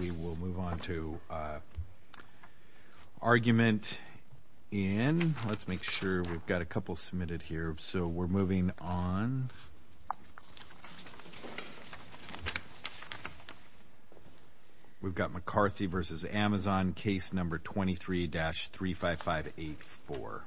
We will move on to argument in. Let's make sure we've got a couple submitted here. So we're moving on. We've got McCarthy v. AMZN case number 23-35584.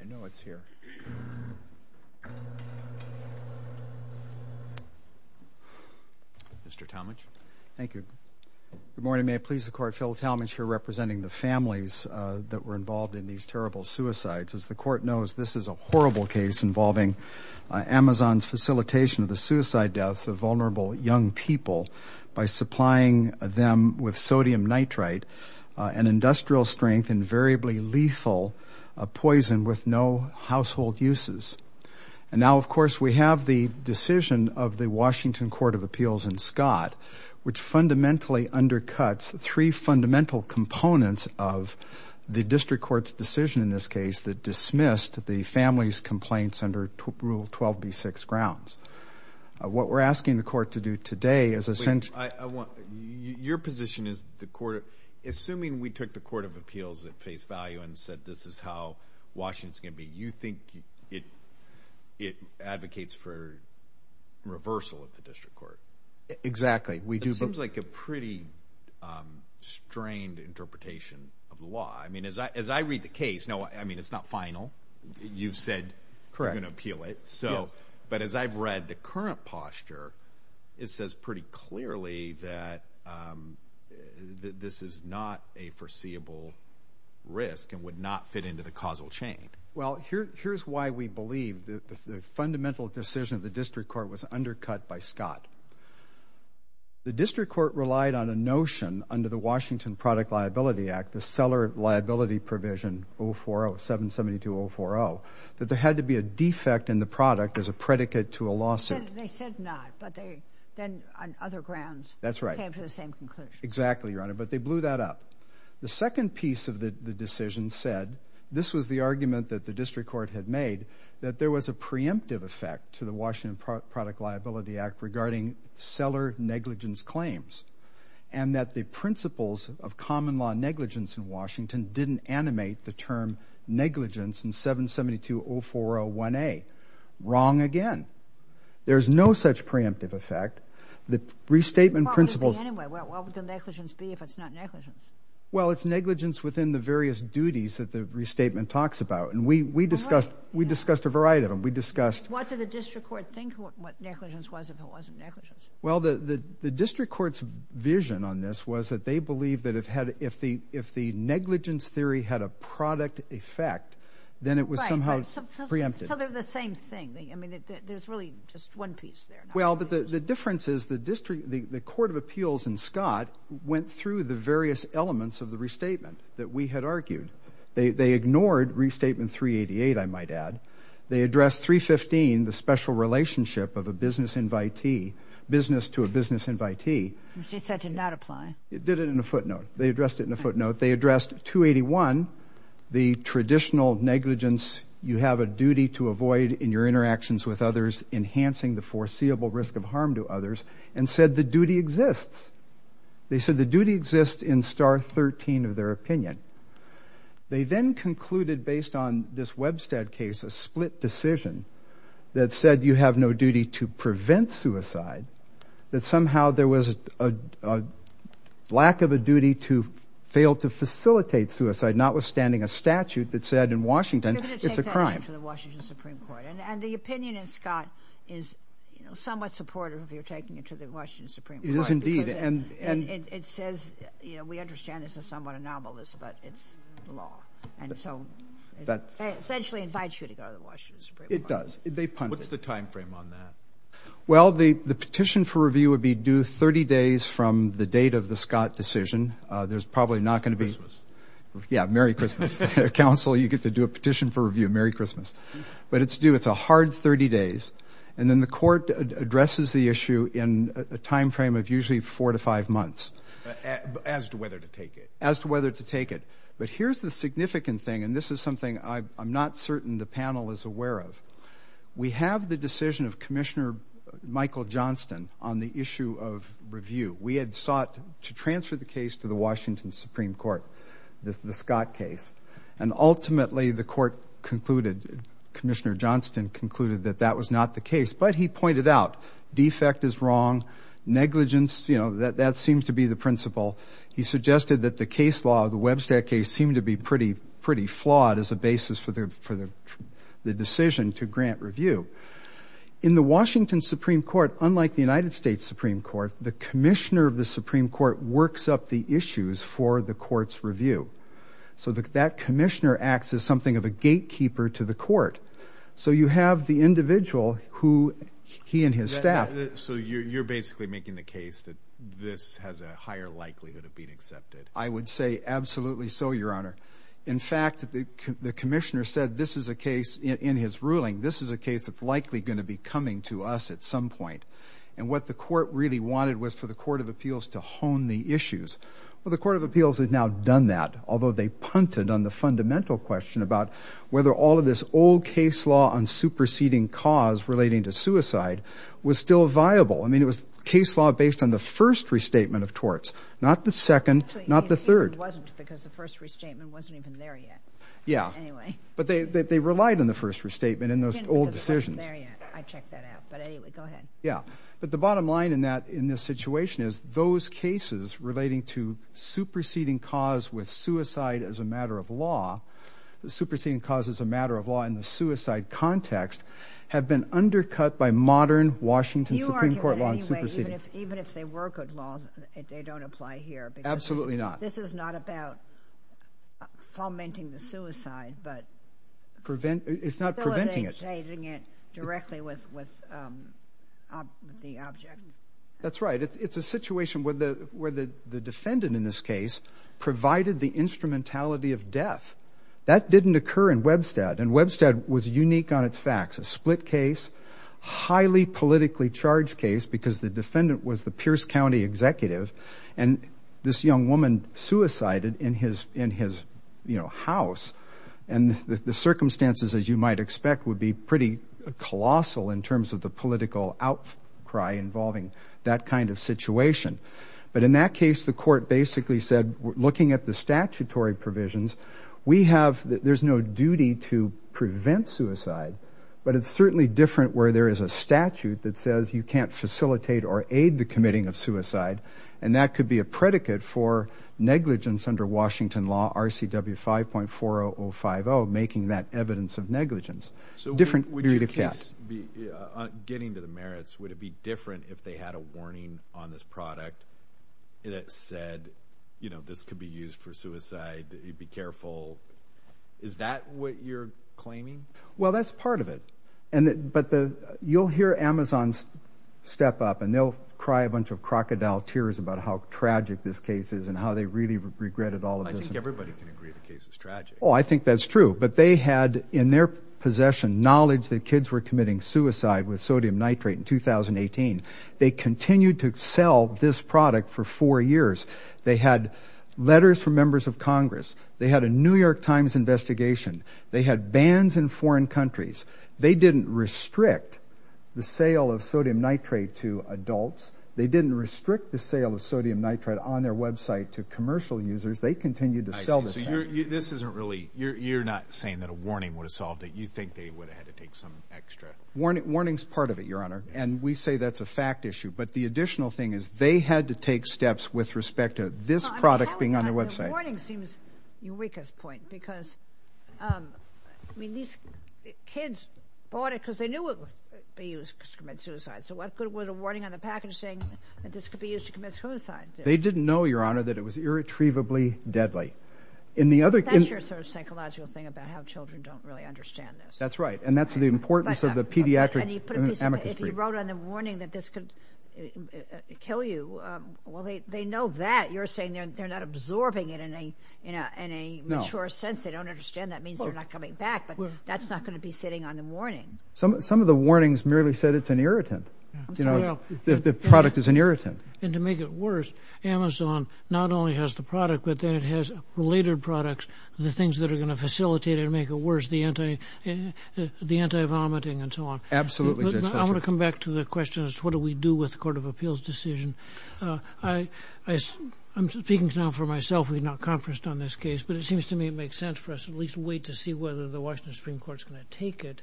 I know it's here. Mr. Talmadge. Thank you. Good morning. May it please the Court, Phil Talmadge here representing the families that were involved in these terrible suicides. As the Court knows, this is a horrible case involving Amazon's facilitation of the suicide deaths of vulnerable young people by supplying them with sodium nitrite, an industrial strength and variably lethal poison with no household uses. And now, of course, we have the decision of the Washington Court of Appeals in Scott, which fundamentally undercuts three fundamental components of the district court's decision in this case that dismissed the family's complaints under Rule 12b-6 grounds. What we're asking the Court to do today is essentially... Your position is the Court, assuming we took the Court of Appeals at face value and said this is how Washington's going to be, you think it advocates for reversal of the district court. Exactly. It seems like a pretty strained interpretation of the law. I mean, as I read the case, no, I mean, it's not final. You've said you're going to appeal it. Correct. Yes. But as I've read the current posture, it says pretty clearly that this is not a foreseeable risk and would not fit into the causal chain. Well, here's why we believe the fundamental decision of the district court was undercut by Scott. The district court relied on a notion under the Washington Product Liability Act, the Seller Liability Provision 040-772-040, that there had to be a defect in the product as a predicate to a lawsuit. They said not, but they then on other grounds... That's right. ...came to the same conclusion. Exactly, Your Honor, but they blew that up. The second piece of the decision said, this was the argument that the district court had made, that there was a preemptive effect to the Washington Product Liability Act regarding seller negligence claims, and that the principles of common law negligence in Washington didn't animate the term negligence in 772-0401A. Wrong again. There's no such preemptive effect. The restatement principles... Well, what would the negligence be if it's not negligence? Well, it's negligence within the various duties that the restatement talks about, and we discussed a variety of them. We discussed... What did the district court think what negligence was if it wasn't negligence? Well, the district court's vision on this was that they believed that if the negligence theory had a product effect, then it was somehow preempted. Right, so they're the same thing. I mean, there's really just one piece there. Well, but the difference is the court of appeals in Scott went through the various elements of the restatement that we had argued. They ignored Restatement 388, I might add. They addressed 315, the special relationship of a business to a business invitee. Which they said did not apply. They did it in a footnote. They addressed it in a footnote. And said the duty exists. They said the duty exists in Star 13 of their opinion. They then concluded, based on this Webstead case, a split decision that said you have no duty to prevent suicide. That somehow there was a lack of a duty to fail to facilitate suicide, notwithstanding a statute that said in Washington it's a crime. And the opinion in Scott is somewhat supportive if you're taking it to the Washington Supreme Court. It is indeed. It says, you know, we understand this is somewhat anomalous, but it's the law. And so it essentially invites you to go to the Washington Supreme Court. It does. They punted it. What's the time frame on that? Well, the petition for review would be due 30 days from the date of the Scott decision. There's probably not going to be... Yeah, Merry Christmas. Council, you get to do a petition for review. Merry Christmas. But it's due. It's a hard 30 days. And then the court addresses the issue in a time frame of usually four to five months. As to whether to take it. As to whether to take it. But here's the significant thing, and this is something I'm not certain the panel is aware of. We have the decision of Commissioner Michael Johnston on the issue of review. We had sought to transfer the case to the Washington Supreme Court, the Scott case. And ultimately the court concluded, Commissioner Johnston concluded, that that was not the case. But he pointed out defect is wrong, negligence, you know, that seems to be the principle. He suggested that the case law, the Webster case, seemed to be pretty flawed as a basis for the decision to grant review. In the Washington Supreme Court, unlike the United States Supreme Court, the commissioner of the Supreme Court works up the issues for the court's review. So that commissioner acts as something of a gatekeeper to the court. So you have the individual who he and his staff... So you're basically making the case that this has a higher likelihood of being accepted. I would say absolutely so, Your Honor. In fact, the commissioner said this is a case in his ruling. This is a case that's likely going to be coming to us at some point. And what the court really wanted was for the Court of Appeals to hone the issues. Well, the Court of Appeals has now done that, although they punted on the fundamental question about whether all of this old case law on superseding cause relating to suicide was still viable. I mean, it was case law based on the first restatement of torts, not the second, not the third. Actually, it wasn't because the first restatement wasn't even there yet. But they relied on the first restatement in those old decisions. I checked that out, but anyway, go ahead. But the bottom line in this situation is those cases relating to superseding cause with suicide as a matter of law, superseding cause as a matter of law in the suicide context, have been undercut by modern Washington Supreme Court law on superseding. You argue that anyway, even if they were good law, they don't apply here. Absolutely not. This is not about fomenting the suicide, but facilitating it directly with the object. That's right. It's a situation where the defendant in this case provided the instrumentality of death. That didn't occur in Webstad, and Webstad was unique on its facts. A split case, highly politically charged case because the defendant was the Pierce County executive, and this young woman suicided in his house, and the circumstances, as you might expect, would be pretty colossal in terms of the political outcry involving that kind of situation. But in that case, the court basically said, looking at the statutory provisions, there's no duty to prevent suicide, but it's certainly different where there is a statute that says you can't facilitate or aid the committing of suicide, and that could be a predicate for negligence under Washington law, RCW 5.40050, making that evidence of negligence. So would your case, getting to the merits, would it be different if they had a warning on this product that said, you know, this could be used for suicide, be careful? Is that what you're claiming? Well, that's part of it. But you'll hear Amazon step up, and they'll cry a bunch of crocodile tears about how tragic this case is and how they really regretted all of this. I think everybody can agree the case is tragic. Oh, I think that's true. But they had in their possession knowledge that kids were committing suicide with sodium nitrate in 2018. They continued to sell this product for four years. They had letters from members of Congress. They had a New York Times investigation. They had bans in foreign countries. They didn't restrict the sale of sodium nitrate to adults. They didn't restrict the sale of sodium nitrate on their website to commercial users. They continued to sell this product. So this isn't really, you're not saying that a warning would have solved it. You think they would have had to take some extra. Warning's part of it, Your Honor, and we say that's a fact issue. But the additional thing is they had to take steps with respect to this product being on their website. The warning seems Eureka's point because, I mean, these kids bought it because they knew it would be used to commit suicide. So what good would a warning on the package say that this could be used to commit suicide? They didn't know, Your Honor, that it was irretrievably deadly. That's your sort of psychological thing about how children don't really understand this. That's right, and that's the importance of the pediatric amnesty. If you wrote on the warning that this could kill you, well, they know that. You're saying they're not absorbing it in a mature sense. They don't understand that means they're not coming back, but that's not going to be sitting on the warning. Some of the warnings merely said it's an irritant. The product is an irritant. And to make it worse, Amazon not only has the product, but then it has related products, the things that are going to facilitate it and make it worse, the anti-vomiting and so on. Absolutely, Judge Fletcher. I want to come back to the question as to what do we do with the court of appeals decision. I'm speaking now for myself. We've not conferenced on this case, but it seems to me it makes sense for us at least to wait to see whether the Washington Supreme Court is going to take it.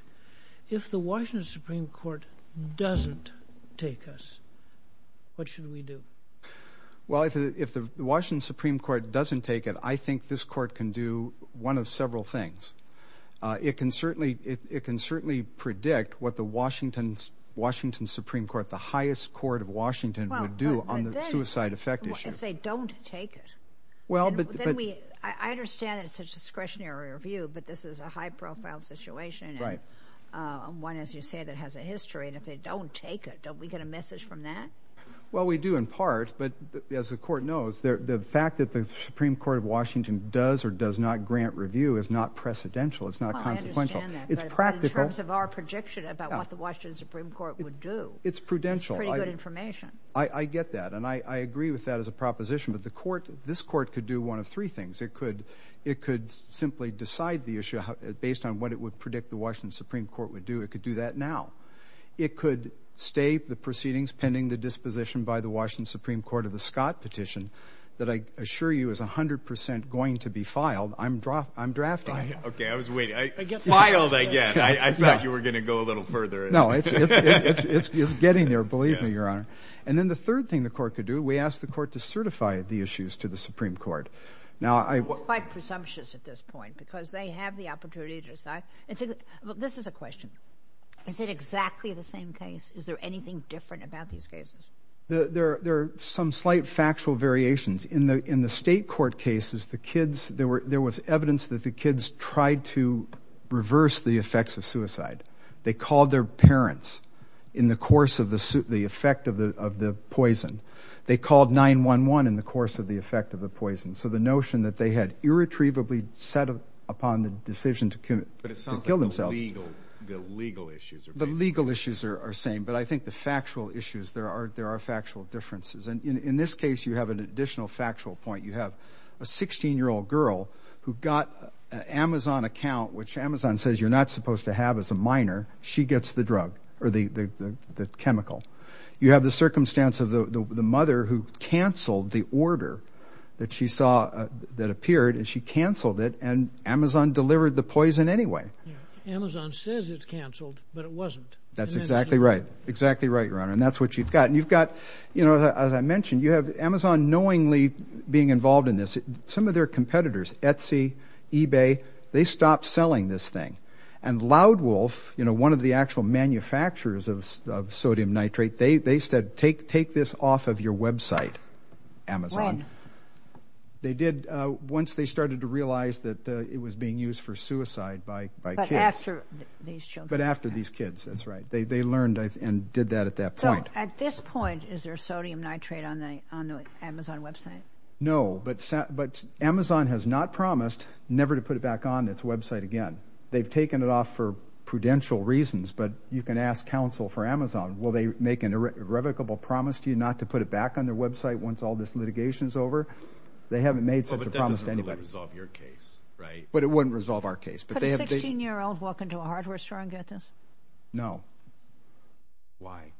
If the Washington Supreme Court doesn't take us, what should we do? Well, if the Washington Supreme Court doesn't take it, I think this court can do one of several things. It can certainly predict what the Washington Supreme Court, the highest court of Washington, would do on the suicide effect issue. If they don't take it? I understand that it's a discretionary review, but this is a high-profile situation, one, as you say, that has a history, and if they don't take it, don't we get a message from that? Well, we do in part, but as the court knows, the fact that the Supreme Court of Washington does or does not grant review is not precedential. It's not consequential. I understand that, but in terms of our prediction about what the Washington Supreme Court would do. It's prudential. I get that, and I agree with that as a proposition, but this court could do one of three things. It could simply decide the issue based on what it would predict the Washington Supreme Court would do. It could do that now. It could stay the proceedings pending the disposition by the Washington Supreme Court of the Scott petition that I assure you is 100 percent going to be filed. I'm drafting it. Okay, I was waiting. Filed again. I thought you were going to go a little further. No, it's getting there, believe me, Your Honor. And then the third thing the court could do, we ask the court to certify the issues to the Supreme Court. It's quite presumptuous at this point because they have the opportunity to decide. This is a question. Is it exactly the same case? Is there anything different about these cases? There are some slight factual variations. In the state court cases, there was evidence that the kids tried to reverse the effects of suicide. They called their parents in the course of the effect of the poison. They called 911 in the course of the effect of the poison. So the notion that they had irretrievably set upon the decision to kill themselves. But it sounds like the legal issues are basically the same. The legal issues are the same, but I think the factual issues, there are factual differences. And in this case, you have an additional factual point. You have a 16-year-old girl who got an Amazon account, which Amazon says you're not supposed to have as a minor. She gets the drug or the chemical. You have the circumstance of the mother who canceled the order that she saw that appeared. And she canceled it, and Amazon delivered the poison anyway. Amazon says it's canceled, but it wasn't. That's exactly right. Exactly right, Your Honor. And that's what you've got. As I mentioned, you have Amazon knowingly being involved in this. Some of their competitors, Etsy, eBay, they stopped selling this thing. And Loudwolf, one of the actual manufacturers of sodium nitrate, they said take this off of your website, Amazon. When? They did once they started to realize that it was being used for suicide by kids. But after these children. But after these kids, that's right. They learned and did that at that point. At this point, is there sodium nitrate on the Amazon website? No, but Amazon has not promised never to put it back on its website again. They've taken it off for prudential reasons, but you can ask counsel for Amazon. Will they make an irrevocable promise to you not to put it back on their website once all this litigation is over? They haven't made such a promise to anybody. Well, but that doesn't really resolve your case, right? But it wouldn't resolve our case. Could a 16-year-old walk into a hardware store and get this? No. Why?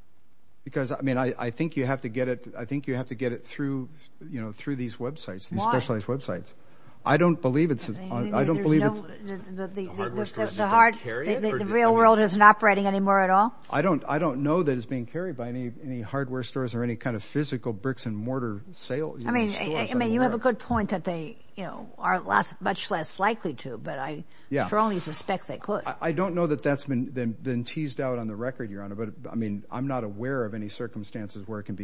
Because, I mean, I think you have to get it. I think you have to get it through, you know, through these websites, these specialized websites. Why? I don't believe it's. I don't believe it's. The hardware store doesn't carry it? The real world isn't operating anymore at all? I don't know that it's being carried by any hardware stores or any kind of physical bricks and mortar sales. I mean, you have a good point that they, you know, are much less likely to, but I strongly suspect they could. I don't know that that's been teased out on the record, Your Honor. But, I mean, I'm not aware of any circumstances where it can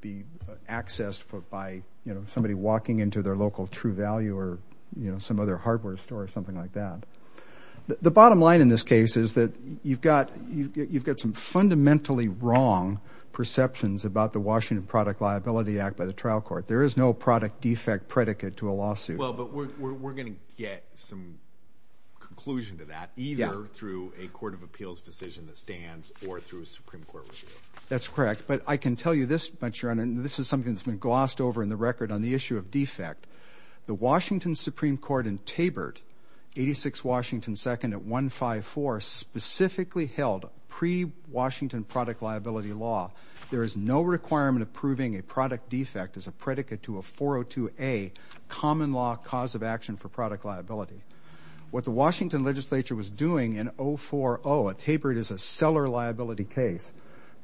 be accessed by, you know, somebody walking into their local True Value or, you know, some other hardware store or something like that. The bottom line in this case is that you've got some fundamentally wrong perceptions about the Washington Product Liability Act by the trial court. There is no product defect predicate to a lawsuit. Well, but we're going to get some conclusion to that either through a court of appeals decision that stands or through a Supreme Court review. That's correct. But I can tell you this much, Your Honor, and this is something that's been glossed over in the record on the issue of defect. The Washington Supreme Court in Tabert, 86 Washington 2nd at 154, specifically held pre-Washington product liability law, there is no requirement of proving a product defect as a predicate to a 402A common law cause of action for product liability. What the Washington legislature was doing in 040 at Tabert is a seller liability case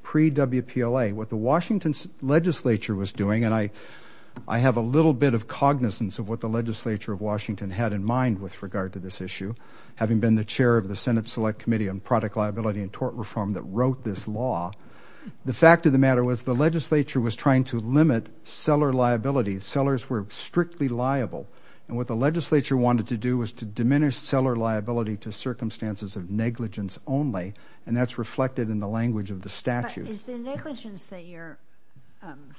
pre-WPLA. What the Washington legislature was doing, and I have a little bit of cognizance of what the legislature of Washington had in mind with regard to this issue, having been the chair of the Senate Select Committee on Product Liability and Tort Reform that wrote this law, the fact of the matter was the legislature was trying to limit seller liability. Sellers were strictly liable. And what the legislature wanted to do was to diminish seller liability to circumstances of negligence only, and that's reflected in the language of the statute. But is the negligence that you're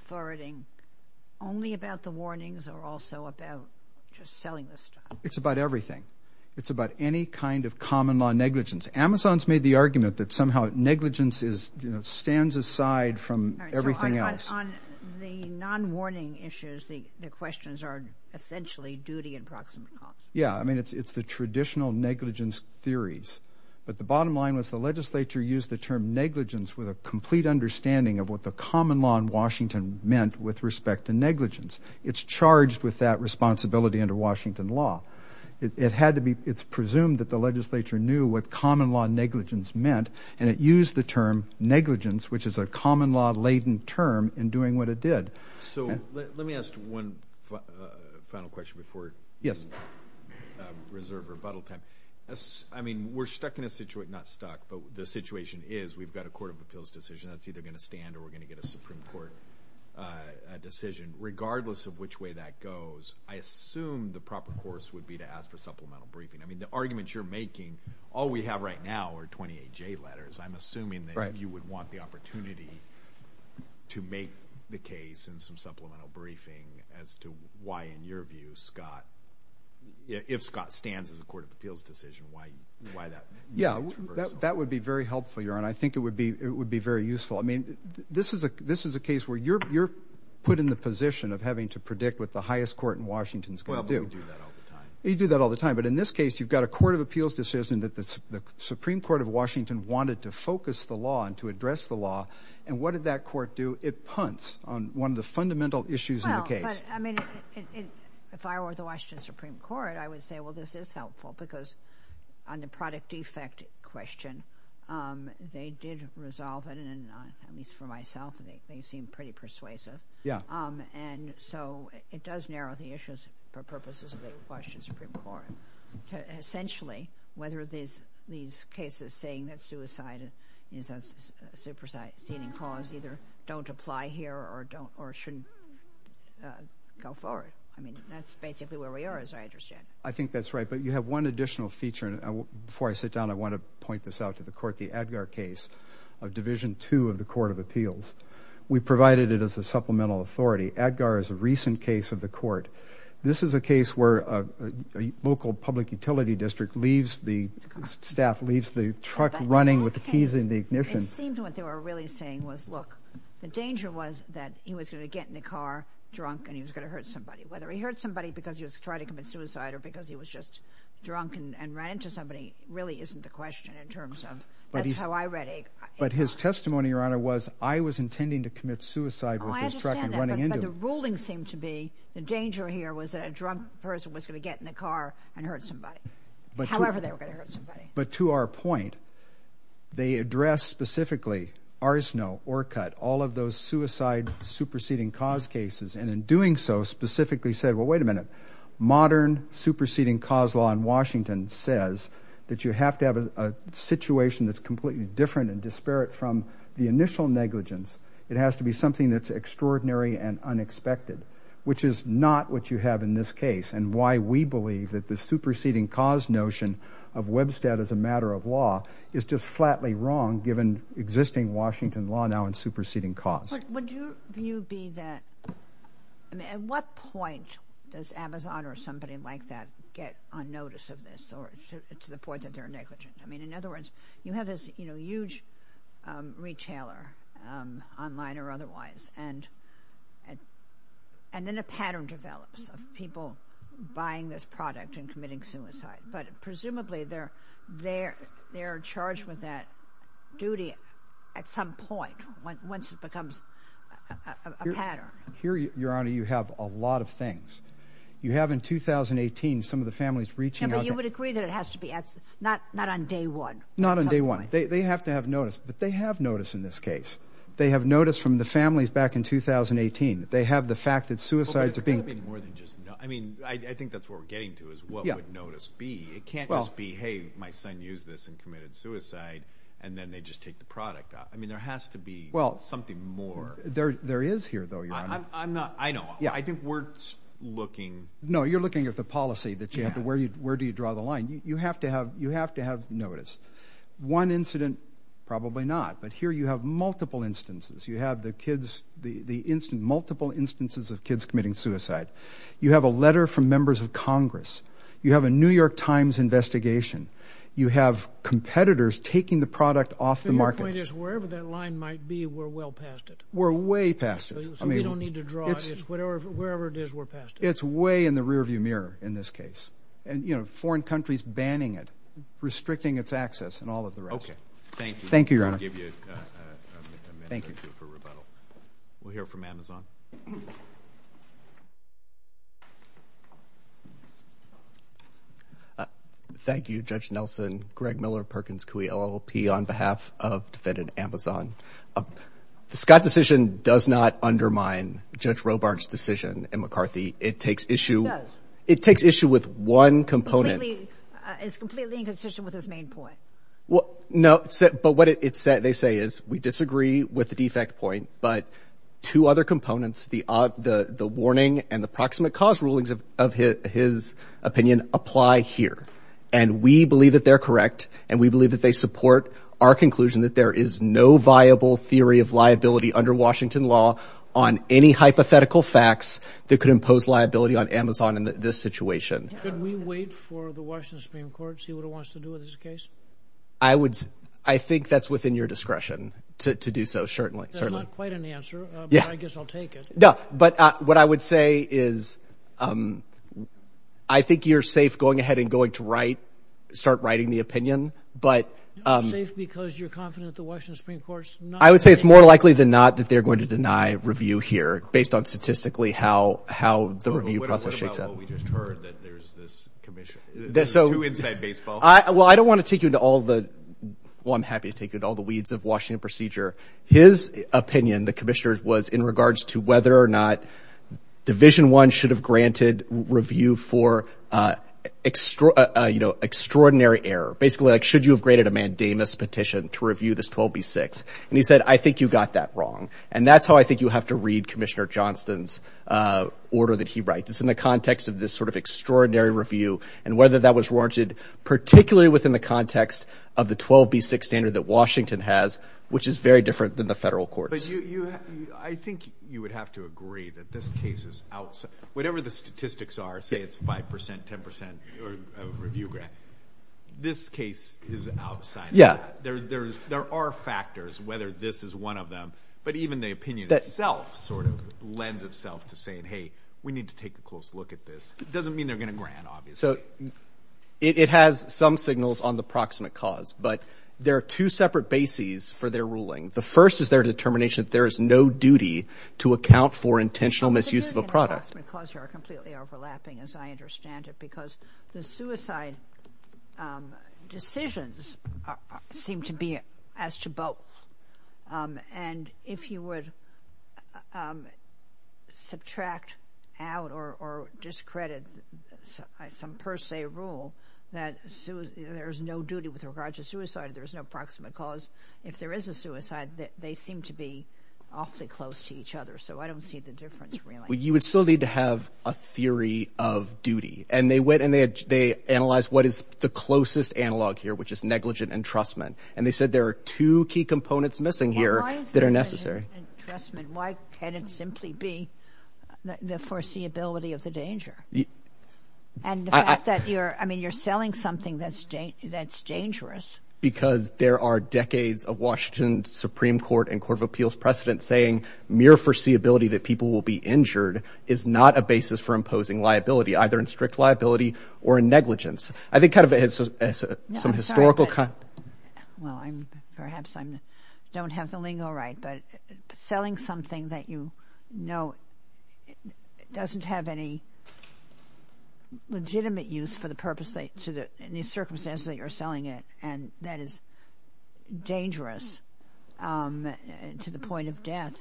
forwarding only about the warnings or also about just selling the stock? It's about everything. It's about any kind of common law negligence. Amazon's made the argument that somehow negligence stands aside from everything else. All right. So on the non-warning issues, the questions are essentially duty and proximate cause. Yeah. I mean, it's the traditional negligence theories. But the bottom line was the legislature used the term negligence with a complete understanding of what the common law in Washington meant with respect to negligence. It's charged with that responsibility under Washington law. It's presumed that the legislature knew what common law negligence meant, and it used the term negligence, which is a common law-laden term, in doing what it did. So let me ask one final question before we reserve rebuttal time. I mean, we're stuck in a situation – not stuck, but the situation is we've got a court of appeals decision that's either going to stand or we're going to get a Supreme Court decision. I mean, regardless of which way that goes, I assume the proper course would be to ask for supplemental briefing. I mean, the arguments you're making, all we have right now are 28J letters. I'm assuming that you would want the opportunity to make the case in some supplemental briefing as to why, in your view, Scott – if Scott stands as a court of appeals decision, why that – Yeah, that would be very helpful, Your Honor. I think it would be very useful. I mean, this is a case where you're put in the position of having to predict what the highest court in Washington is going to do. Well, but we do that all the time. You do that all the time. But in this case, you've got a court of appeals decision that the Supreme Court of Washington wanted to focus the law and to address the law, and what did that court do? It punts on one of the fundamental issues in the case. Well, but, I mean, if I were the Washington Supreme Court, I would say, well, this is helpful, because on the product defect question, they did resolve it, and at least for myself, they seem pretty persuasive. And so it does narrow the issues for purposes of the Washington Supreme Court. Essentially, whether these cases saying that suicide is a superseding cause either don't apply here or shouldn't go forward. I mean, that's basically where we are, as I understand. I think that's right. But you have one additional feature, and before I sit down, I want to point this out to the court. The Adgar case of Division II of the Court of Appeals, we provided it as a supplemental authority. Adgar is a recent case of the court. This is a case where a local public utility district leaves the staff, leaves the truck running with the keys in the ignition. It seemed what they were really saying was, look, the danger was that he was going to get in the car drunk, and he was going to hurt somebody. Whether he hurt somebody because he was trying to commit suicide or because he was just drunk and ran into somebody really isn't the question in terms of, that's how I read it. But his testimony, Your Honor, was I was intending to commit suicide with this truck running into him. Oh, I understand that, but the ruling seemed to be the danger here was that a drunk person was going to get in the car and hurt somebody, however they were going to hurt somebody. But to our point, they addressed specifically Arsenal, Orcut, all of those suicide superseding cause cases, and in doing so, specifically said, well, wait a minute. Modern superseding cause law in Washington says that you have to have a situation that's completely different and disparate from the initial negligence. It has to be something that's extraordinary and unexpected, which is not what you have in this case and why we believe that the superseding cause notion of Webstat as a matter of law is just flatly wrong given existing Washington law now in superseding cause. Would you be that, I mean, at what point does Amazon or somebody like that get on notice of this or to the point that they're negligent? I mean, in other words, you have this huge retailer online or otherwise, and then a pattern develops of people buying this product and committing suicide. But presumably, they're charged with that duty at some point once it becomes a pattern. Here, Your Honor, you have a lot of things. You have in 2018 some of the families reaching out. But you would agree that it has to be not on day one. Not on day one. They have to have notice. But they have notice in this case. They have notice from the families back in 2018. They have the fact that suicides are being committed. I mean, I think that's what we're getting to is what would notice be. It can't just be, hey, my son used this and committed suicide, and then they just take the product out. I mean, there has to be something more. There is here, though, Your Honor. I know. I think we're looking. No, you're looking at the policy. Where do you draw the line? You have to have notice. One incident, probably not. But here you have multiple instances. You have the multiple instances of kids committing suicide. You have a letter from members of Congress. You have a New York Times investigation. You have competitors taking the product off the market. So your point is wherever that line might be, we're well past it. We're way past it. So we don't need to draw it. It's wherever it is, we're past it. It's way in the rearview mirror in this case. And, you know, foreign countries banning it, restricting its access, and all of the rest. Okay. Thank you. Thank you, Your Honor. I'll give you a minute or two for rebuttal. We'll hear from Amazon. Thank you, Judge Nelson, Greg Miller, Perkins Coie, LLP, on behalf of Defendant Amazon. The Scott decision does not undermine Judge Robart's decision in McCarthy. It takes issue with one component. It's completely inconsistent with his main point. No. But what they say is we disagree with the defect point. But two other components, the warning and the proximate cause rulings of his opinion, apply here. And we believe that they're correct. And we believe that they support our conclusion that there is no viable theory of liability under Washington law on any hypothetical facts that could impose liability on Amazon in this situation. Could we wait for the Washington Supreme Court to see what it wants to do with this case? I think that's within your discretion to do so, certainly. That's not quite an answer, but I guess I'll take it. No. But what I would say is I think you're safe going ahead and going to write, start writing the opinion, but. Safe because you're confident the Washington Supreme Court's not. I would say it's more likely than not that they're going to deny review here based on statistically how the review process shakes out. What about what we just heard, that there's this commission? Two inside baseball. Well, I don't want to take you into all the – well, I'm happy to take you into all the weeds of Washington procedure. His opinion, the commissioner's, was in regards to whether or not Division I should have granted review for extraordinary error. Basically, like should you have granted a mandamus petition to review this 12b-6? And he said, I think you got that wrong. And that's how I think you have to read Commissioner Johnston's order that he writes. It's in the context of this sort of extraordinary review and whether that was warranted, particularly within the context of the 12b-6 standard that Washington has, which is very different than the federal courts. But you – I think you would have to agree that this case is – whatever the statistics are, say it's 5 percent, 10 percent review grant. This case is outside of that. There are factors, whether this is one of them. But even the opinion itself sort of lends itself to saying, hey, we need to take a close look at this. It doesn't mean they're going to grant, obviously. So it has some signals on the proximate cause. But there are two separate bases for their ruling. The first is their determination that there is no duty to account for intentional misuse of a product. are completely overlapping as I understand it because the suicide decisions seem to be as to both. And if you would subtract out or discredit some per se rule that there is no duty with regard to suicide, there is no proximate cause. If there is a suicide, they seem to be awfully close to each other. So I don't see the difference really. You would still need to have a theory of duty. And they went and they analyzed what is the closest analog here, which is negligent entrustment. And they said there are two key components missing here that are necessary. Why is it negligent entrustment? Why can't it simply be the foreseeability of the danger? And the fact that you're – I mean, you're selling something that's dangerous. Because there are decades of Washington Supreme Court and Court of Appeals precedent saying mere foreseeability that people will be injured is not a basis for imposing liability, either in strict liability or in negligence. I think kind of some historical – Well, I'm – perhaps I don't have the lingo right. But selling something that you know doesn't have any legitimate use for the purpose that – in the circumstances that you're selling it and that is dangerous to the point of death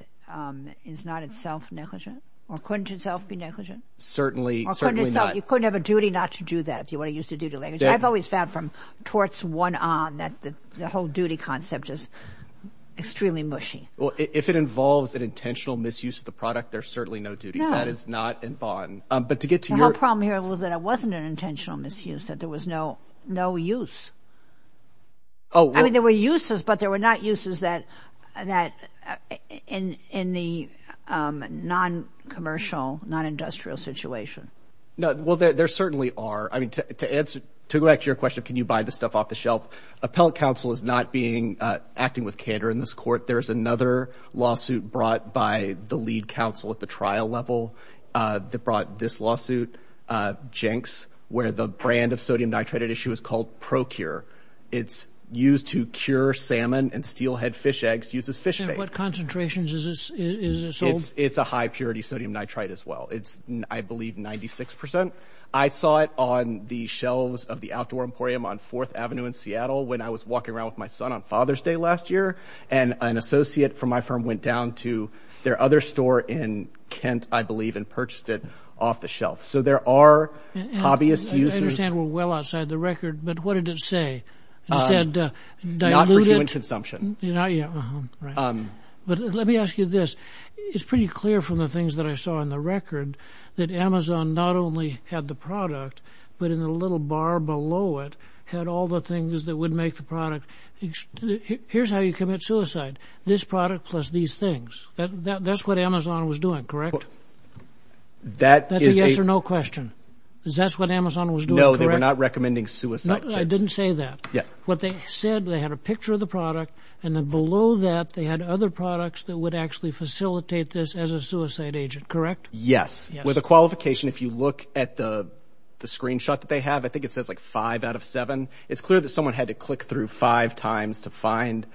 is not itself negligent or couldn't itself be negligent? Certainly not. Or couldn't itself – you couldn't have a duty not to do that if you want to use the duty language. I've always found from torts one on that the whole duty concept is extremely mushy. Well, if it involves an intentional misuse of the product, there's certainly no duty. That is not in bond. But to get to your – The whole problem here was that it wasn't an intentional misuse, that there was no use. Oh, well – I mean there were uses, but there were not uses that in the non-commercial, non-industrial situation. No. Well, there certainly are. I mean to answer – to go back to your question of can you buy this stuff off the shelf, appellate counsel is not being – acting with candor in this court. There is another lawsuit brought by the lead counsel at the trial level that brought this lawsuit, Jenks, where the brand of sodium nitrate at issue is called Pro-Cure. It's used to cure salmon and steelhead fish eggs, uses fish bait. And what concentrations is it sold? It's a high-purity sodium nitrate as well. It's, I believe, 96 percent. I saw it on the shelves of the Outdoor Emporium on 4th Avenue in Seattle when I was walking around with my son on Father's Day last year. And an associate from my firm went down to their other store in Kent, I believe, and purchased it off the shelf. So there are hobbyist users – I understand we're well outside the record, but what did it say? It said diluted – Not for human consumption. Not yet. Right. But let me ask you this. It's pretty clear from the things that I saw in the record that Amazon not only had the product, but in the little bar below it had all the things that would make the product. Here's how you commit suicide. This product plus these things. That's what Amazon was doing, correct? That is a – That's a yes or no question. Is that what Amazon was doing, correct? No, they were not recommending suicide kits. I didn't say that. Yeah. So what they said, they had a picture of the product, and then below that they had other products that would actually facilitate this as a suicide agent, correct? Yes. With a qualification, if you look at the screenshot that they have, I think it says like five out of seven. It's clear that someone had to click through five times to find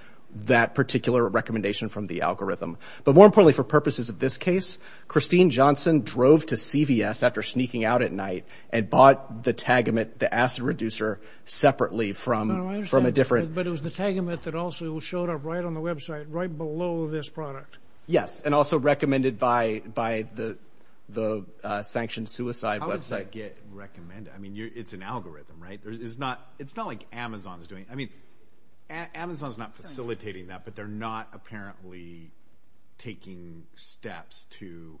that particular recommendation from the algorithm. But more importantly, for purposes of this case, Christine Johnson drove to CVS after sneaking out at night and bought the tagamate, the acid reducer, separately from a different – But it was the tagamate that also showed up right on the website, right below this product. Yes, and also recommended by the sanctioned suicide website. How does that get recommended? I mean, it's an algorithm, right? It's not like Amazon is doing – I mean, Amazon is not facilitating that, but they're not apparently taking steps to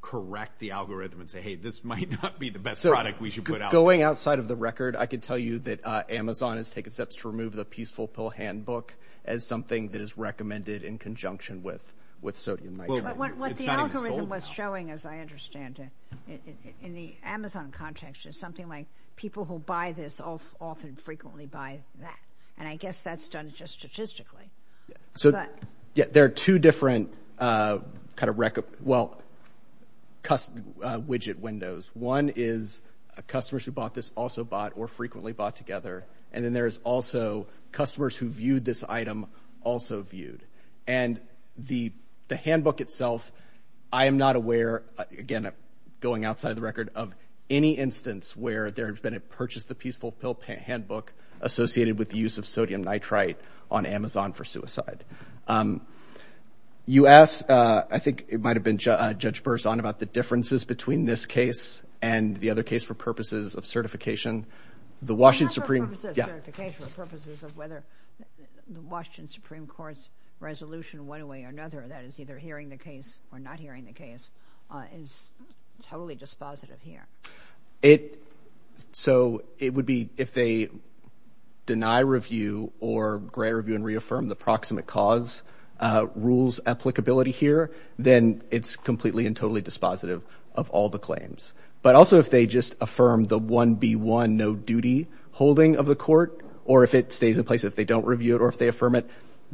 correct the algorithm and say, hey, this might not be the best product we should put out there. Going outside of the record, I can tell you that Amazon is taking steps to remove the peaceful pill handbook as something that is recommended in conjunction with sodium nitrate. It's not even sold now. What the algorithm was showing, as I understand it, in the Amazon context, is something like people who buy this often frequently buy that. And I guess that's done just statistically. So there are two different kind of – well, widget windows. One is customers who bought this also bought or frequently bought together, and then there is also customers who viewed this item also viewed. And the handbook itself, I am not aware – again, going outside of the record – of any instance where there has been a purchase the peaceful pill handbook associated with the use of sodium nitrite on Amazon for suicide. You asked – I think it might have been Judge Burrson about the differences between this case and the other case for purposes of certification. The Washington Supreme – Not for purposes of certification, but purposes of whether the Washington Supreme Court's resolution one way or another, that is, either hearing the case or not hearing the case, is totally dispositive here. It – so it would be if they deny review or grant review and reaffirm the proximate cause rules applicability here, then it's completely and totally dispositive of all the claims. But also if they just affirm the 1B1 no-duty holding of the court, or if it stays in place if they don't review it or if they affirm it,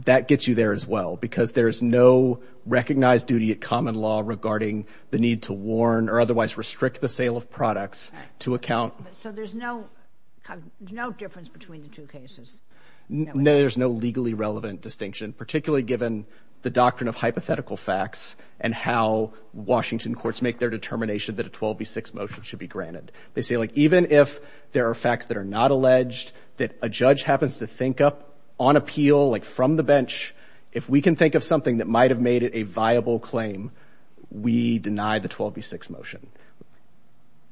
that gets you there as well, because there is no recognized duty at common law regarding the need to warn or otherwise restrict the sale of products to account – So there's no difference between the two cases? No, there's no legally relevant distinction, particularly given the doctrine of hypothetical facts and how Washington courts make their determination that a 12B6 motion should be granted. They say, like, even if there are facts that are not alleged, that a judge happens to think up on appeal, like from the bench, if we can think of something that might have made it a viable claim, we deny the 12B6 motion.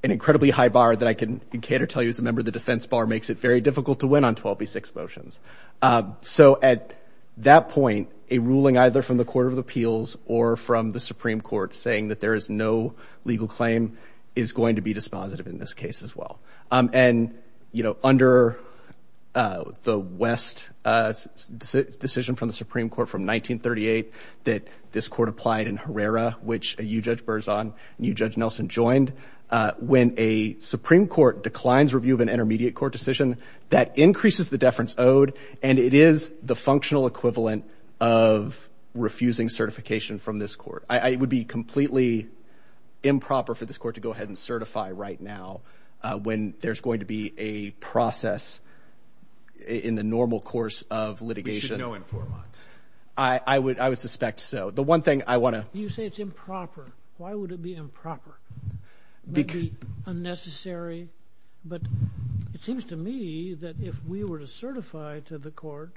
An incredibly high bar that I can cater to as a member of the defense bar makes it very difficult to win on 12B6 motions. So at that point, a ruling either from the Court of Appeals or from the Supreme Court saying that there is no legal claim is going to be dispositive in this case as well. And, you know, under the West decision from the Supreme Court from 1938 that this court applied in Herrera, which you, Judge Berzon, and you, Judge Nelson, joined, when a Supreme Court declines review of an intermediate court decision, that increases the deference owed, and it is the functional equivalent of refusing certification from this court. It would be completely improper for this court to go ahead and certify right now when there's going to be a process in the normal course of litigation. We should know in four months. I would suspect so. The one thing I want to... You say it's improper. Why would it be improper? It might be unnecessary, but it seems to me that if we were to certify to the court,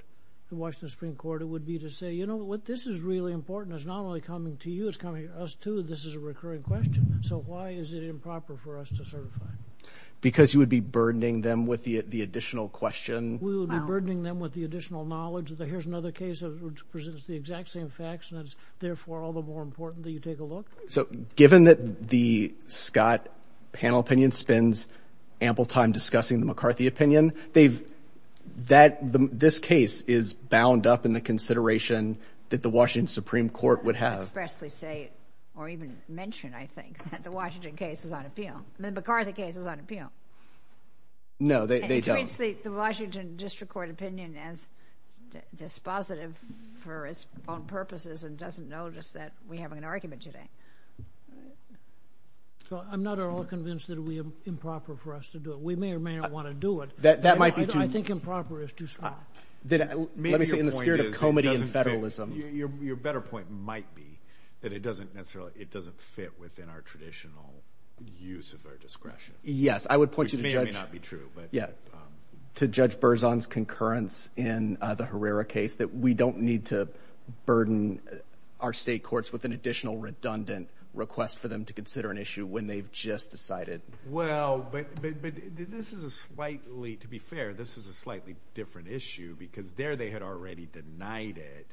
the Washington Supreme Court, it would be to say, you know what, this is really important. It's not only coming to you, it's coming to us too. This is a recurring question. So why is it improper for us to certify? Because you would be burdening them with the additional question. We would be burdening them with the additional knowledge. Here's another case that presents the exact same facts, and that is, therefore, all the more important that you take a look. So given that the Scott panel opinion spends ample time discussing the McCarthy opinion, this case is bound up in the consideration that the Washington Supreme Court would have. I wouldn't expressly say or even mention, I think, that the Washington case is on appeal. The McCarthy case is on appeal. No, they don't. It treats the Washington District Court opinion as dispositive for its own purposes and doesn't notice that we have an argument today. I'm not at all convinced that it would be improper for us to do it. We may or may not want to do it. That might be true. I think improper is too strong. Let me say, in the spirit of comity and federalism. Your better point might be that it doesn't necessarily, it doesn't fit within our traditional use of our discretion. Yes, I would point you to Judge... Which may or may not be true. To Judge Berzon's concurrence in the Herrera case that we don't need to burden our state courts with an additional redundant request for them to consider an issue when they've just decided. Well, but this is a slightly, to be fair, this is a slightly different issue because there they had already denied it.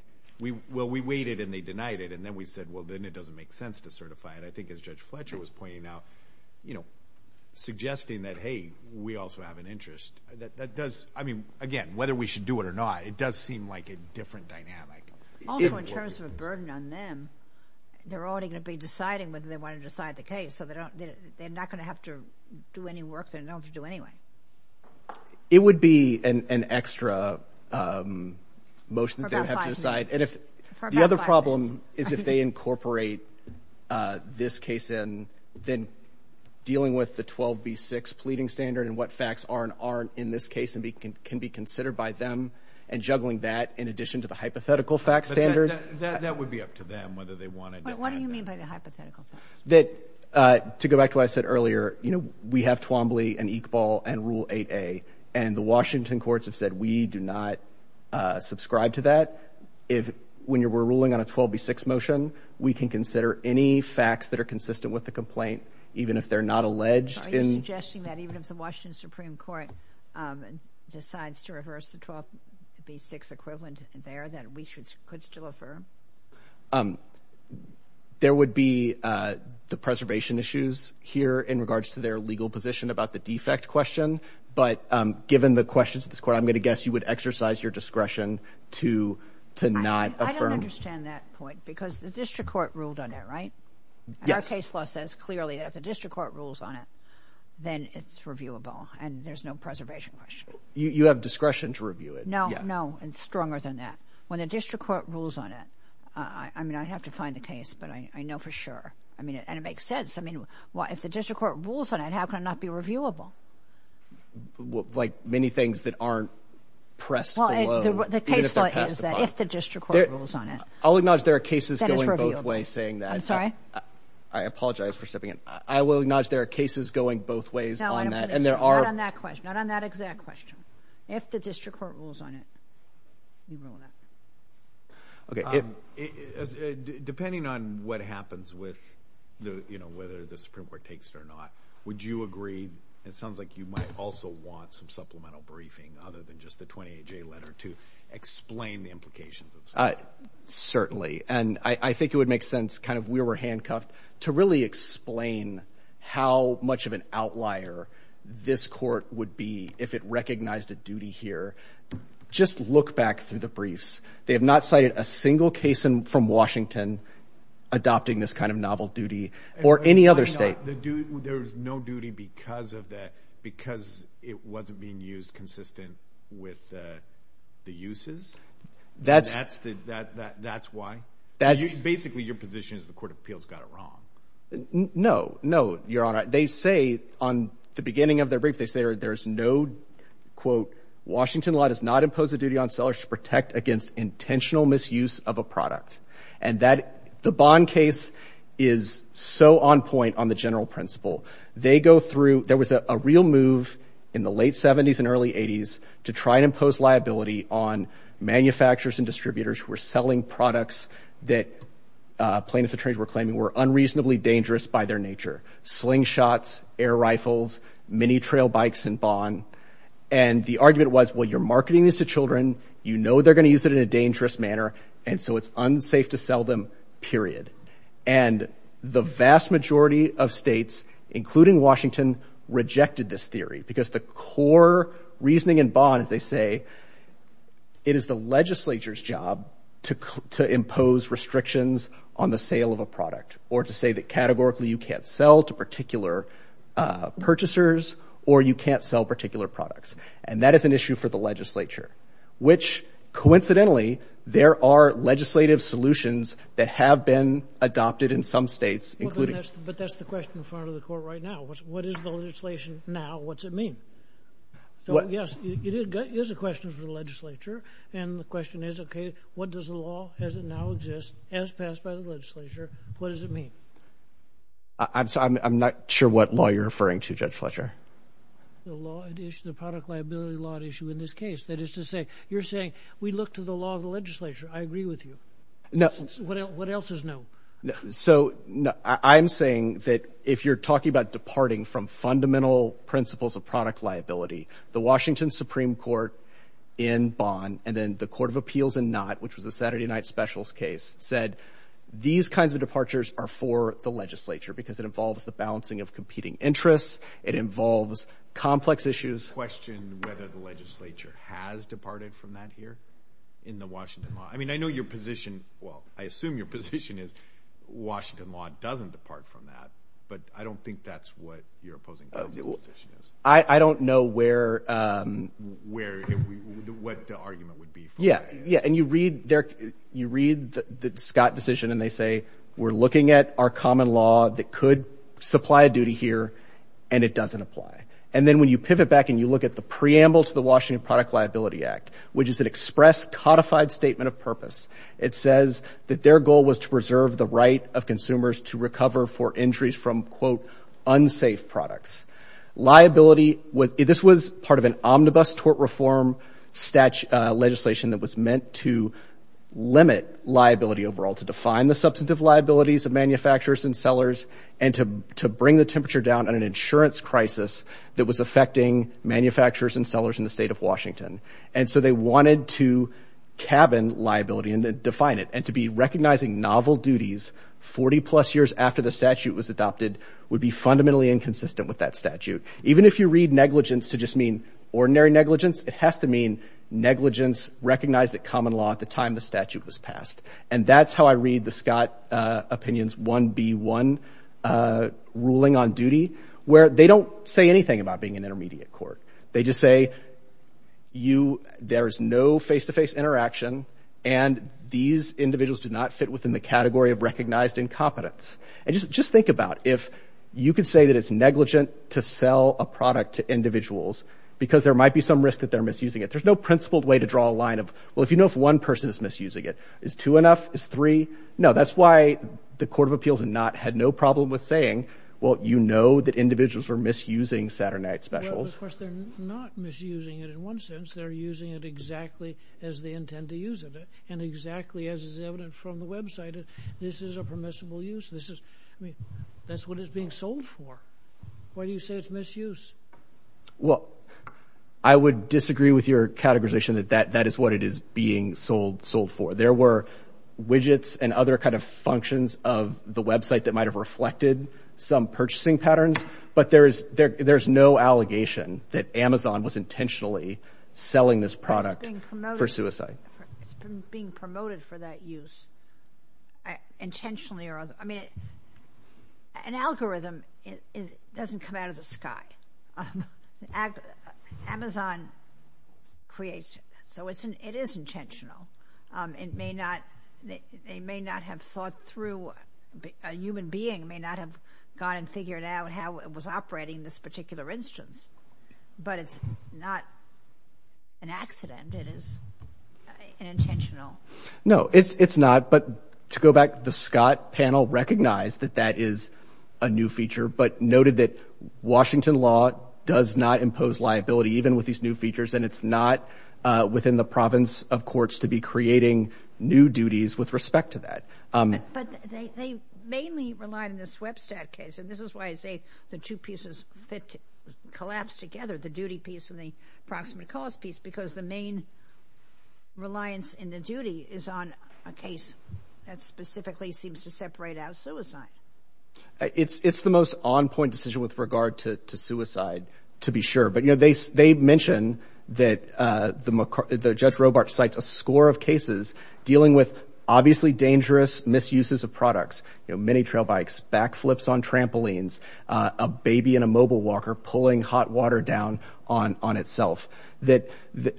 Well, we waited and they denied it, and then we said, well, then it doesn't make sense to certify it. I think as Judge Fletcher was pointing out, suggesting that, hey, we also have an interest, that does, I mean, again, whether we should do it or not, it does seem like a different dynamic. Also in terms of a burden on them, they're already going to be deciding whether they want to decide the case, so they're not going to have to do any work they don't have to do anyway. It would be an extra motion that they would have to decide. The other problem is if they incorporate this case in, then dealing with the 12B6 pleading standard and what facts are and aren't in this case and can be considered by them and juggling that in addition to the hypothetical fact standard. That would be up to them whether they want to deal with that. What do you mean by the hypothetical fact standard? That, to go back to what I said earlier, you know, we have Twombly and Iqbal and Rule 8A, and the Washington courts have said we do not subscribe to that. When we're ruling on a 12B6 motion, we can consider any facts that are consistent with the complaint, even if they're not alleged. Are you suggesting that even if the Washington Supreme Court decides to reverse the 12B6 equivalent there, that we could still affirm? There would be the preservation issues here in regards to their legal position about the defect question, but given the questions of this court, I'm going to guess you would exercise your discretion to not affirm. I don't understand that point, because the district court ruled on that, right? Yes. And our case law says clearly that if the district court rules on it, then it's reviewable and there's no preservation question. You have discretion to review it. No, no, it's stronger than that. When the district court rules on it, I mean, I have to find the case, but I know for sure. I mean, and it makes sense. I mean, if the district court rules on it, how can it not be reviewable? Like many things that aren't pressed below, the case law is that if the district court rules on it, I'll acknowledge there are cases going both ways saying that. I apologize for stepping in. I will acknowledge there are cases going both ways on that. No, not on that question, not on that exact question. If the district court rules on it, you rule on that. Depending on what happens with, you know, whether the Supreme Court takes it or not, would you agree, it sounds like you might also want some supplemental briefing other than just the 28-J letter to explain the implications of this? Certainly, and I think it would make sense, kind of where we're handcuffed, to really explain how much of an outlier this court would be if it recognized a duty here. Just look back through the briefs. They have not cited a single case from Washington adopting this kind of novel duty or any other state. There was no duty because of that, because it wasn't being used consistent with the uses? That's why? Basically, your position is the court of appeals got it wrong. No, no, Your Honor. They say on the beginning of their brief, they say there's no, quote, Washington law does not impose a duty on sellers to protect against intentional misuse of a product. And the Bond case is so on point on the general principle. They go through, there was a real move in the late 70s and early 80s to try and impose liability on manufacturers and distributors who were selling products that plaintiff attorneys were claiming were unreasonably dangerous by their nature. Slingshots, air rifles, mini-trail bikes in Bond. And the argument was, well, you're marketing this to children, you know they're going to use it in a dangerous manner, and so it's unsafe to sell them, period. And the vast majority of states, including Washington, rejected this theory because the core reasoning in Bond, as they say, it is the legislature's job to impose restrictions on the sale of a product or to say that categorically you can't sell to particular purchasers or you can't sell particular products. And that is an issue for the legislature, which coincidentally, there are legislative solutions that have been adopted in some states, including... But that's the question in front of the court right now. What is the legislation now? What's it mean? Yes, it is a question for the legislature, and the question is, okay, what does the law, as it now exists, as passed by the legislature, what does it mean? I'm not sure what law you're referring to, Judge Fletcher. The product liability law issue in this case. That is to say, you're saying, we look to the law of the legislature, I agree with you. What else is no? So I'm saying that if you're talking about departing from fundamental principles of product liability, the Washington Supreme Court in Bond and then the Court of Appeals in Knott, which was a Saturday night specials case, said these kinds of departures are for the legislature because it involves the balancing of competing interests, it involves complex issues. I question whether the legislature has departed from that here in the Washington law. I mean, I know your position, well, I assume your position is, Washington law doesn't depart from that, but I don't think that's what your opposing counsel's position is. I don't know where, what the argument would be. Yeah, and you read the Scott decision and they say, we're looking at our common law that could supply a duty here, and it doesn't apply. And then when you pivot back and you look at the preamble to the Washington Product Liability Act, which is an express codified statement of purpose, it says that their goal was to preserve the right of consumers to recover for injuries from, quote, unsafe products. Liability, this was part of an omnibus tort reform legislation that was meant to limit liability overall, to define the substantive liabilities of manufacturers and sellers and to bring the temperature down on an insurance crisis that was affecting manufacturers and sellers in the state of Washington. And so they wanted to cabin liability and define it. And to be recognizing novel duties 40-plus years after the statute was adopted would be fundamentally inconsistent with that statute. Even if you read negligence to just mean ordinary negligence, it has to mean negligence recognized at common law at the time the statute was passed. And that's how I read the Scott opinion's 1B1 ruling on duty, where they don't say anything about being an intermediate court. They just say there is no face-to-face interaction and these individuals do not fit within the category of recognized incompetence. And just think about it. If you could say that it's negligent to sell a product to individuals because there might be some risk that they're misusing it, there's no principled way to draw a line of, well, if you know if one person is misusing it. Is two enough? Is three? No, that's why the Court of Appeals had no problem with saying, well, you know that individuals are misusing Saturday night specials. Of course, they're not misusing it in one sense. They're using it exactly as they intend to use it and exactly as is evident from the website. This is a permissible use. I mean, that's what it's being sold for. Why do you say it's misuse? Well, I would disagree with your categorization that that is what it is being sold for. There were widgets and other kind of functions of the website that might have reflected some purchasing patterns, but there's no allegation that Amazon was intentionally selling this product for suicide. It's being promoted for that use, intentionally or otherwise. I mean, an algorithm doesn't come out of the sky. Amazon creates it, so it is intentional. It may not have thought through, a human being may not have gone and figured out how it was operating this particular instance, but it's not an accident. It is intentional. No, it's not, but to go back, the Scott panel recognized that that is a new feature but noted that Washington law does not impose liability even with these new features and it's not within the province of courts to be creating new duties with respect to that. But they mainly relied on the swebstack case, and this is why I say the two pieces collapse together, the duty piece and the approximate cause piece, because the main reliance in the duty is on a case that specifically seems to separate out suicide. It's the most on-point decision with regard to suicide, to be sure, but they mention that Judge Robart cites a score of cases dealing with obviously dangerous misuses of products, mini-trail bikes, back flips on trampolines, a baby in a mobile walker pulling hot water down on itself, that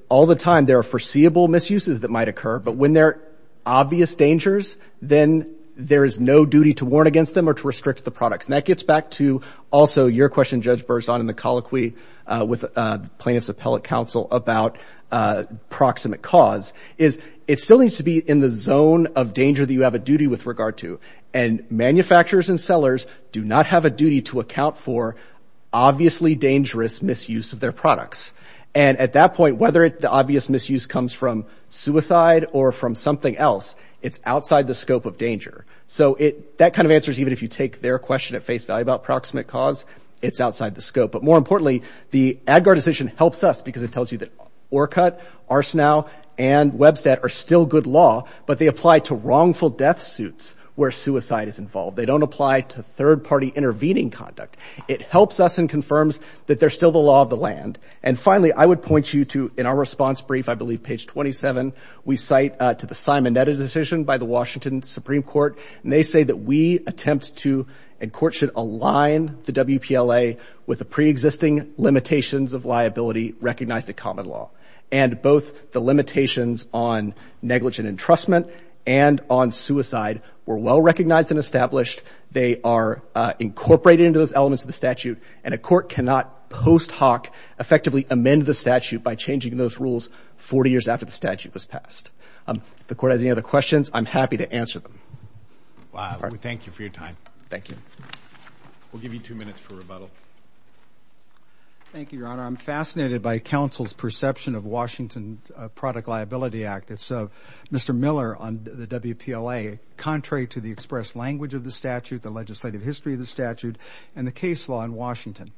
all the time there are foreseeable misuses that might occur, but when there are obvious dangers, then there is no duty to warn against them or to restrict the products. And that gets back to also your question, Judge Berzon, in the colloquy with plaintiff's appellate counsel about proximate cause, is it still needs to be in the zone of danger that you have a duty with regard to, and manufacturers and sellers do not have a duty to account for obviously dangerous misuse of their products. And at that point, whether the obvious misuse comes from suicide or from something else, it's outside the scope of danger. So that kind of answers even if you take their question at face value about proximate cause, it's outside the scope. But more importantly, the ADGAR decision helps us because it tells you that Orcut, Arsenal, and Webstat are still good law, but they apply to wrongful death suits where suicide is involved. They don't apply to third-party intervening conduct. It helps us and confirms that they're still the law of the land. And finally, I would point you to, in our response brief, I believe page 27, we cite to the Simonetta decision by the Washington Supreme Court, and they say that we attempt to and courts should align the WPLA with the preexisting limitations of liability recognized in common law. And both the limitations on negligent entrustment and on suicide were well recognized and established. They are incorporated into those elements of the statute, and a court cannot post hoc effectively amend the statute by changing those rules 40 years after the statute was passed. If the court has any other questions, I'm happy to answer them. Thank you for your time. Thank you. We'll give you two minutes for rebuttal. Thank you, Your Honor. I'm fascinated by counsel's perception of Washington Product Liability Act. It's Mr. Miller on the WPLA, contrary to the express language of the statute, the legislative history of the statute, and the case law in Washington.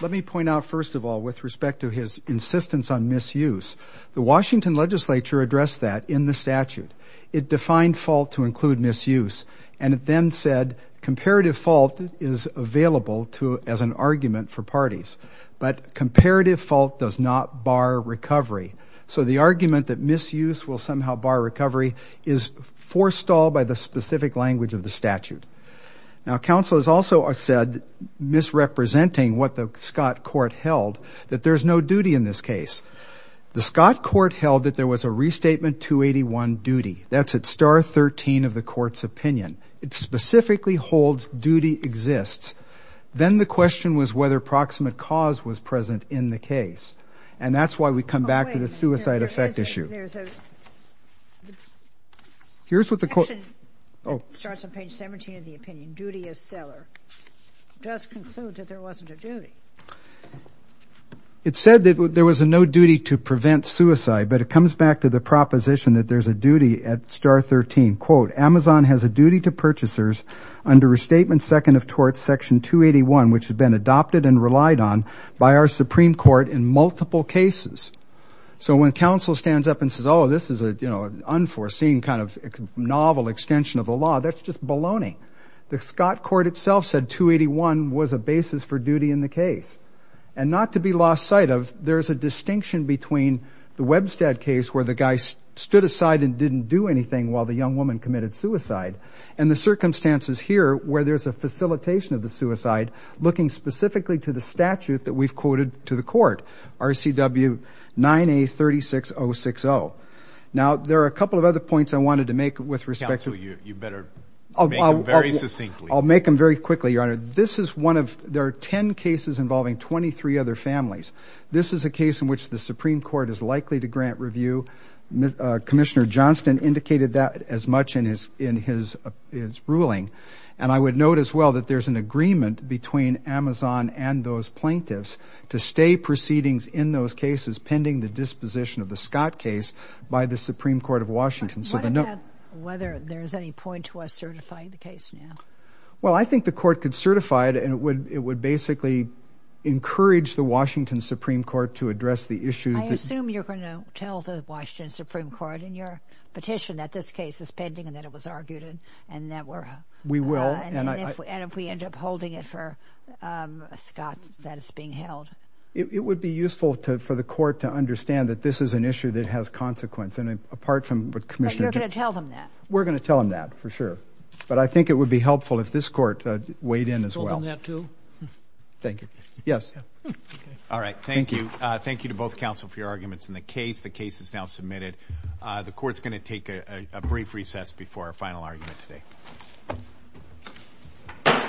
Let me point out, first of all, with respect to his insistence on misuse, the Washington legislature addressed that in the statute. It defined fault to include misuse, and it then said comparative fault is available as an argument for parties, but comparative fault does not bar recovery. So the argument that misuse will somehow bar recovery is forestalled by the specific language of the statute. Now, counsel has also said, misrepresenting what the Scott court held, that there's no duty in this case. The Scott court held that there was a Restatement 281 duty. That's at star 13 of the court's opinion. It specifically holds duty exists. Then the question was whether proximate cause was present in the case, and that's why we come back to the suicide effect issue. There's a section that starts on page 17 of the opinion, duty as seller. It does conclude that there wasn't a duty. It said that there was no duty to prevent suicide, but it comes back to the proposition that there's a duty at star 13. Quote, Amazon has a duty to purchasers under Restatement Second of Torts Section 281, which had been adopted and relied on by our Supreme Court in multiple cases. So when counsel stands up and says, oh, this is an unforeseen kind of novel extension of the law, that's just baloney. The Scott court itself said 281 was a basis for duty in the case. And not to be lost sight of, there's a distinction between the Webstead case where the guy stood aside and didn't do anything while the young woman committed suicide and the circumstances here where there's a facilitation of the suicide looking specifically to the statute that we've quoted to the court, RCW 9A 36060. Now, there are a couple of other points I wanted to make with respect to— Counsel, you better make them very succinctly. I'll make them very quickly, Your Honor. This is one of—there are 10 cases involving 23 other families. This is a case in which the Supreme Court is likely to grant review. Commissioner Johnston indicated that as much in his ruling. And I would note as well that there's an agreement between Amazon and those plaintiffs to stay proceedings in those cases pending the disposition of the Scott case by the Supreme Court of Washington. So the— Why not whether there's any point to us certifying the case now? Well, I think the court could certify it and it would basically encourage the Washington Supreme Court to address the issue. I assume you're going to tell the Washington Supreme Court in your petition that this case is pending and that it was argued and that we're— We will. And if we end up holding it for Scott's status being held. It would be useful for the court to understand that this is an issue that has consequence. And apart from what Commissioner— But you're going to tell them that. We're going to tell them that for sure. But I think it would be helpful if this court weighed in as well. Thank you. Yes. All right. Thank you. Thank you to both counsel for your arguments in the case. The case is now submitted. The court's going to take a brief recess before our final argument today.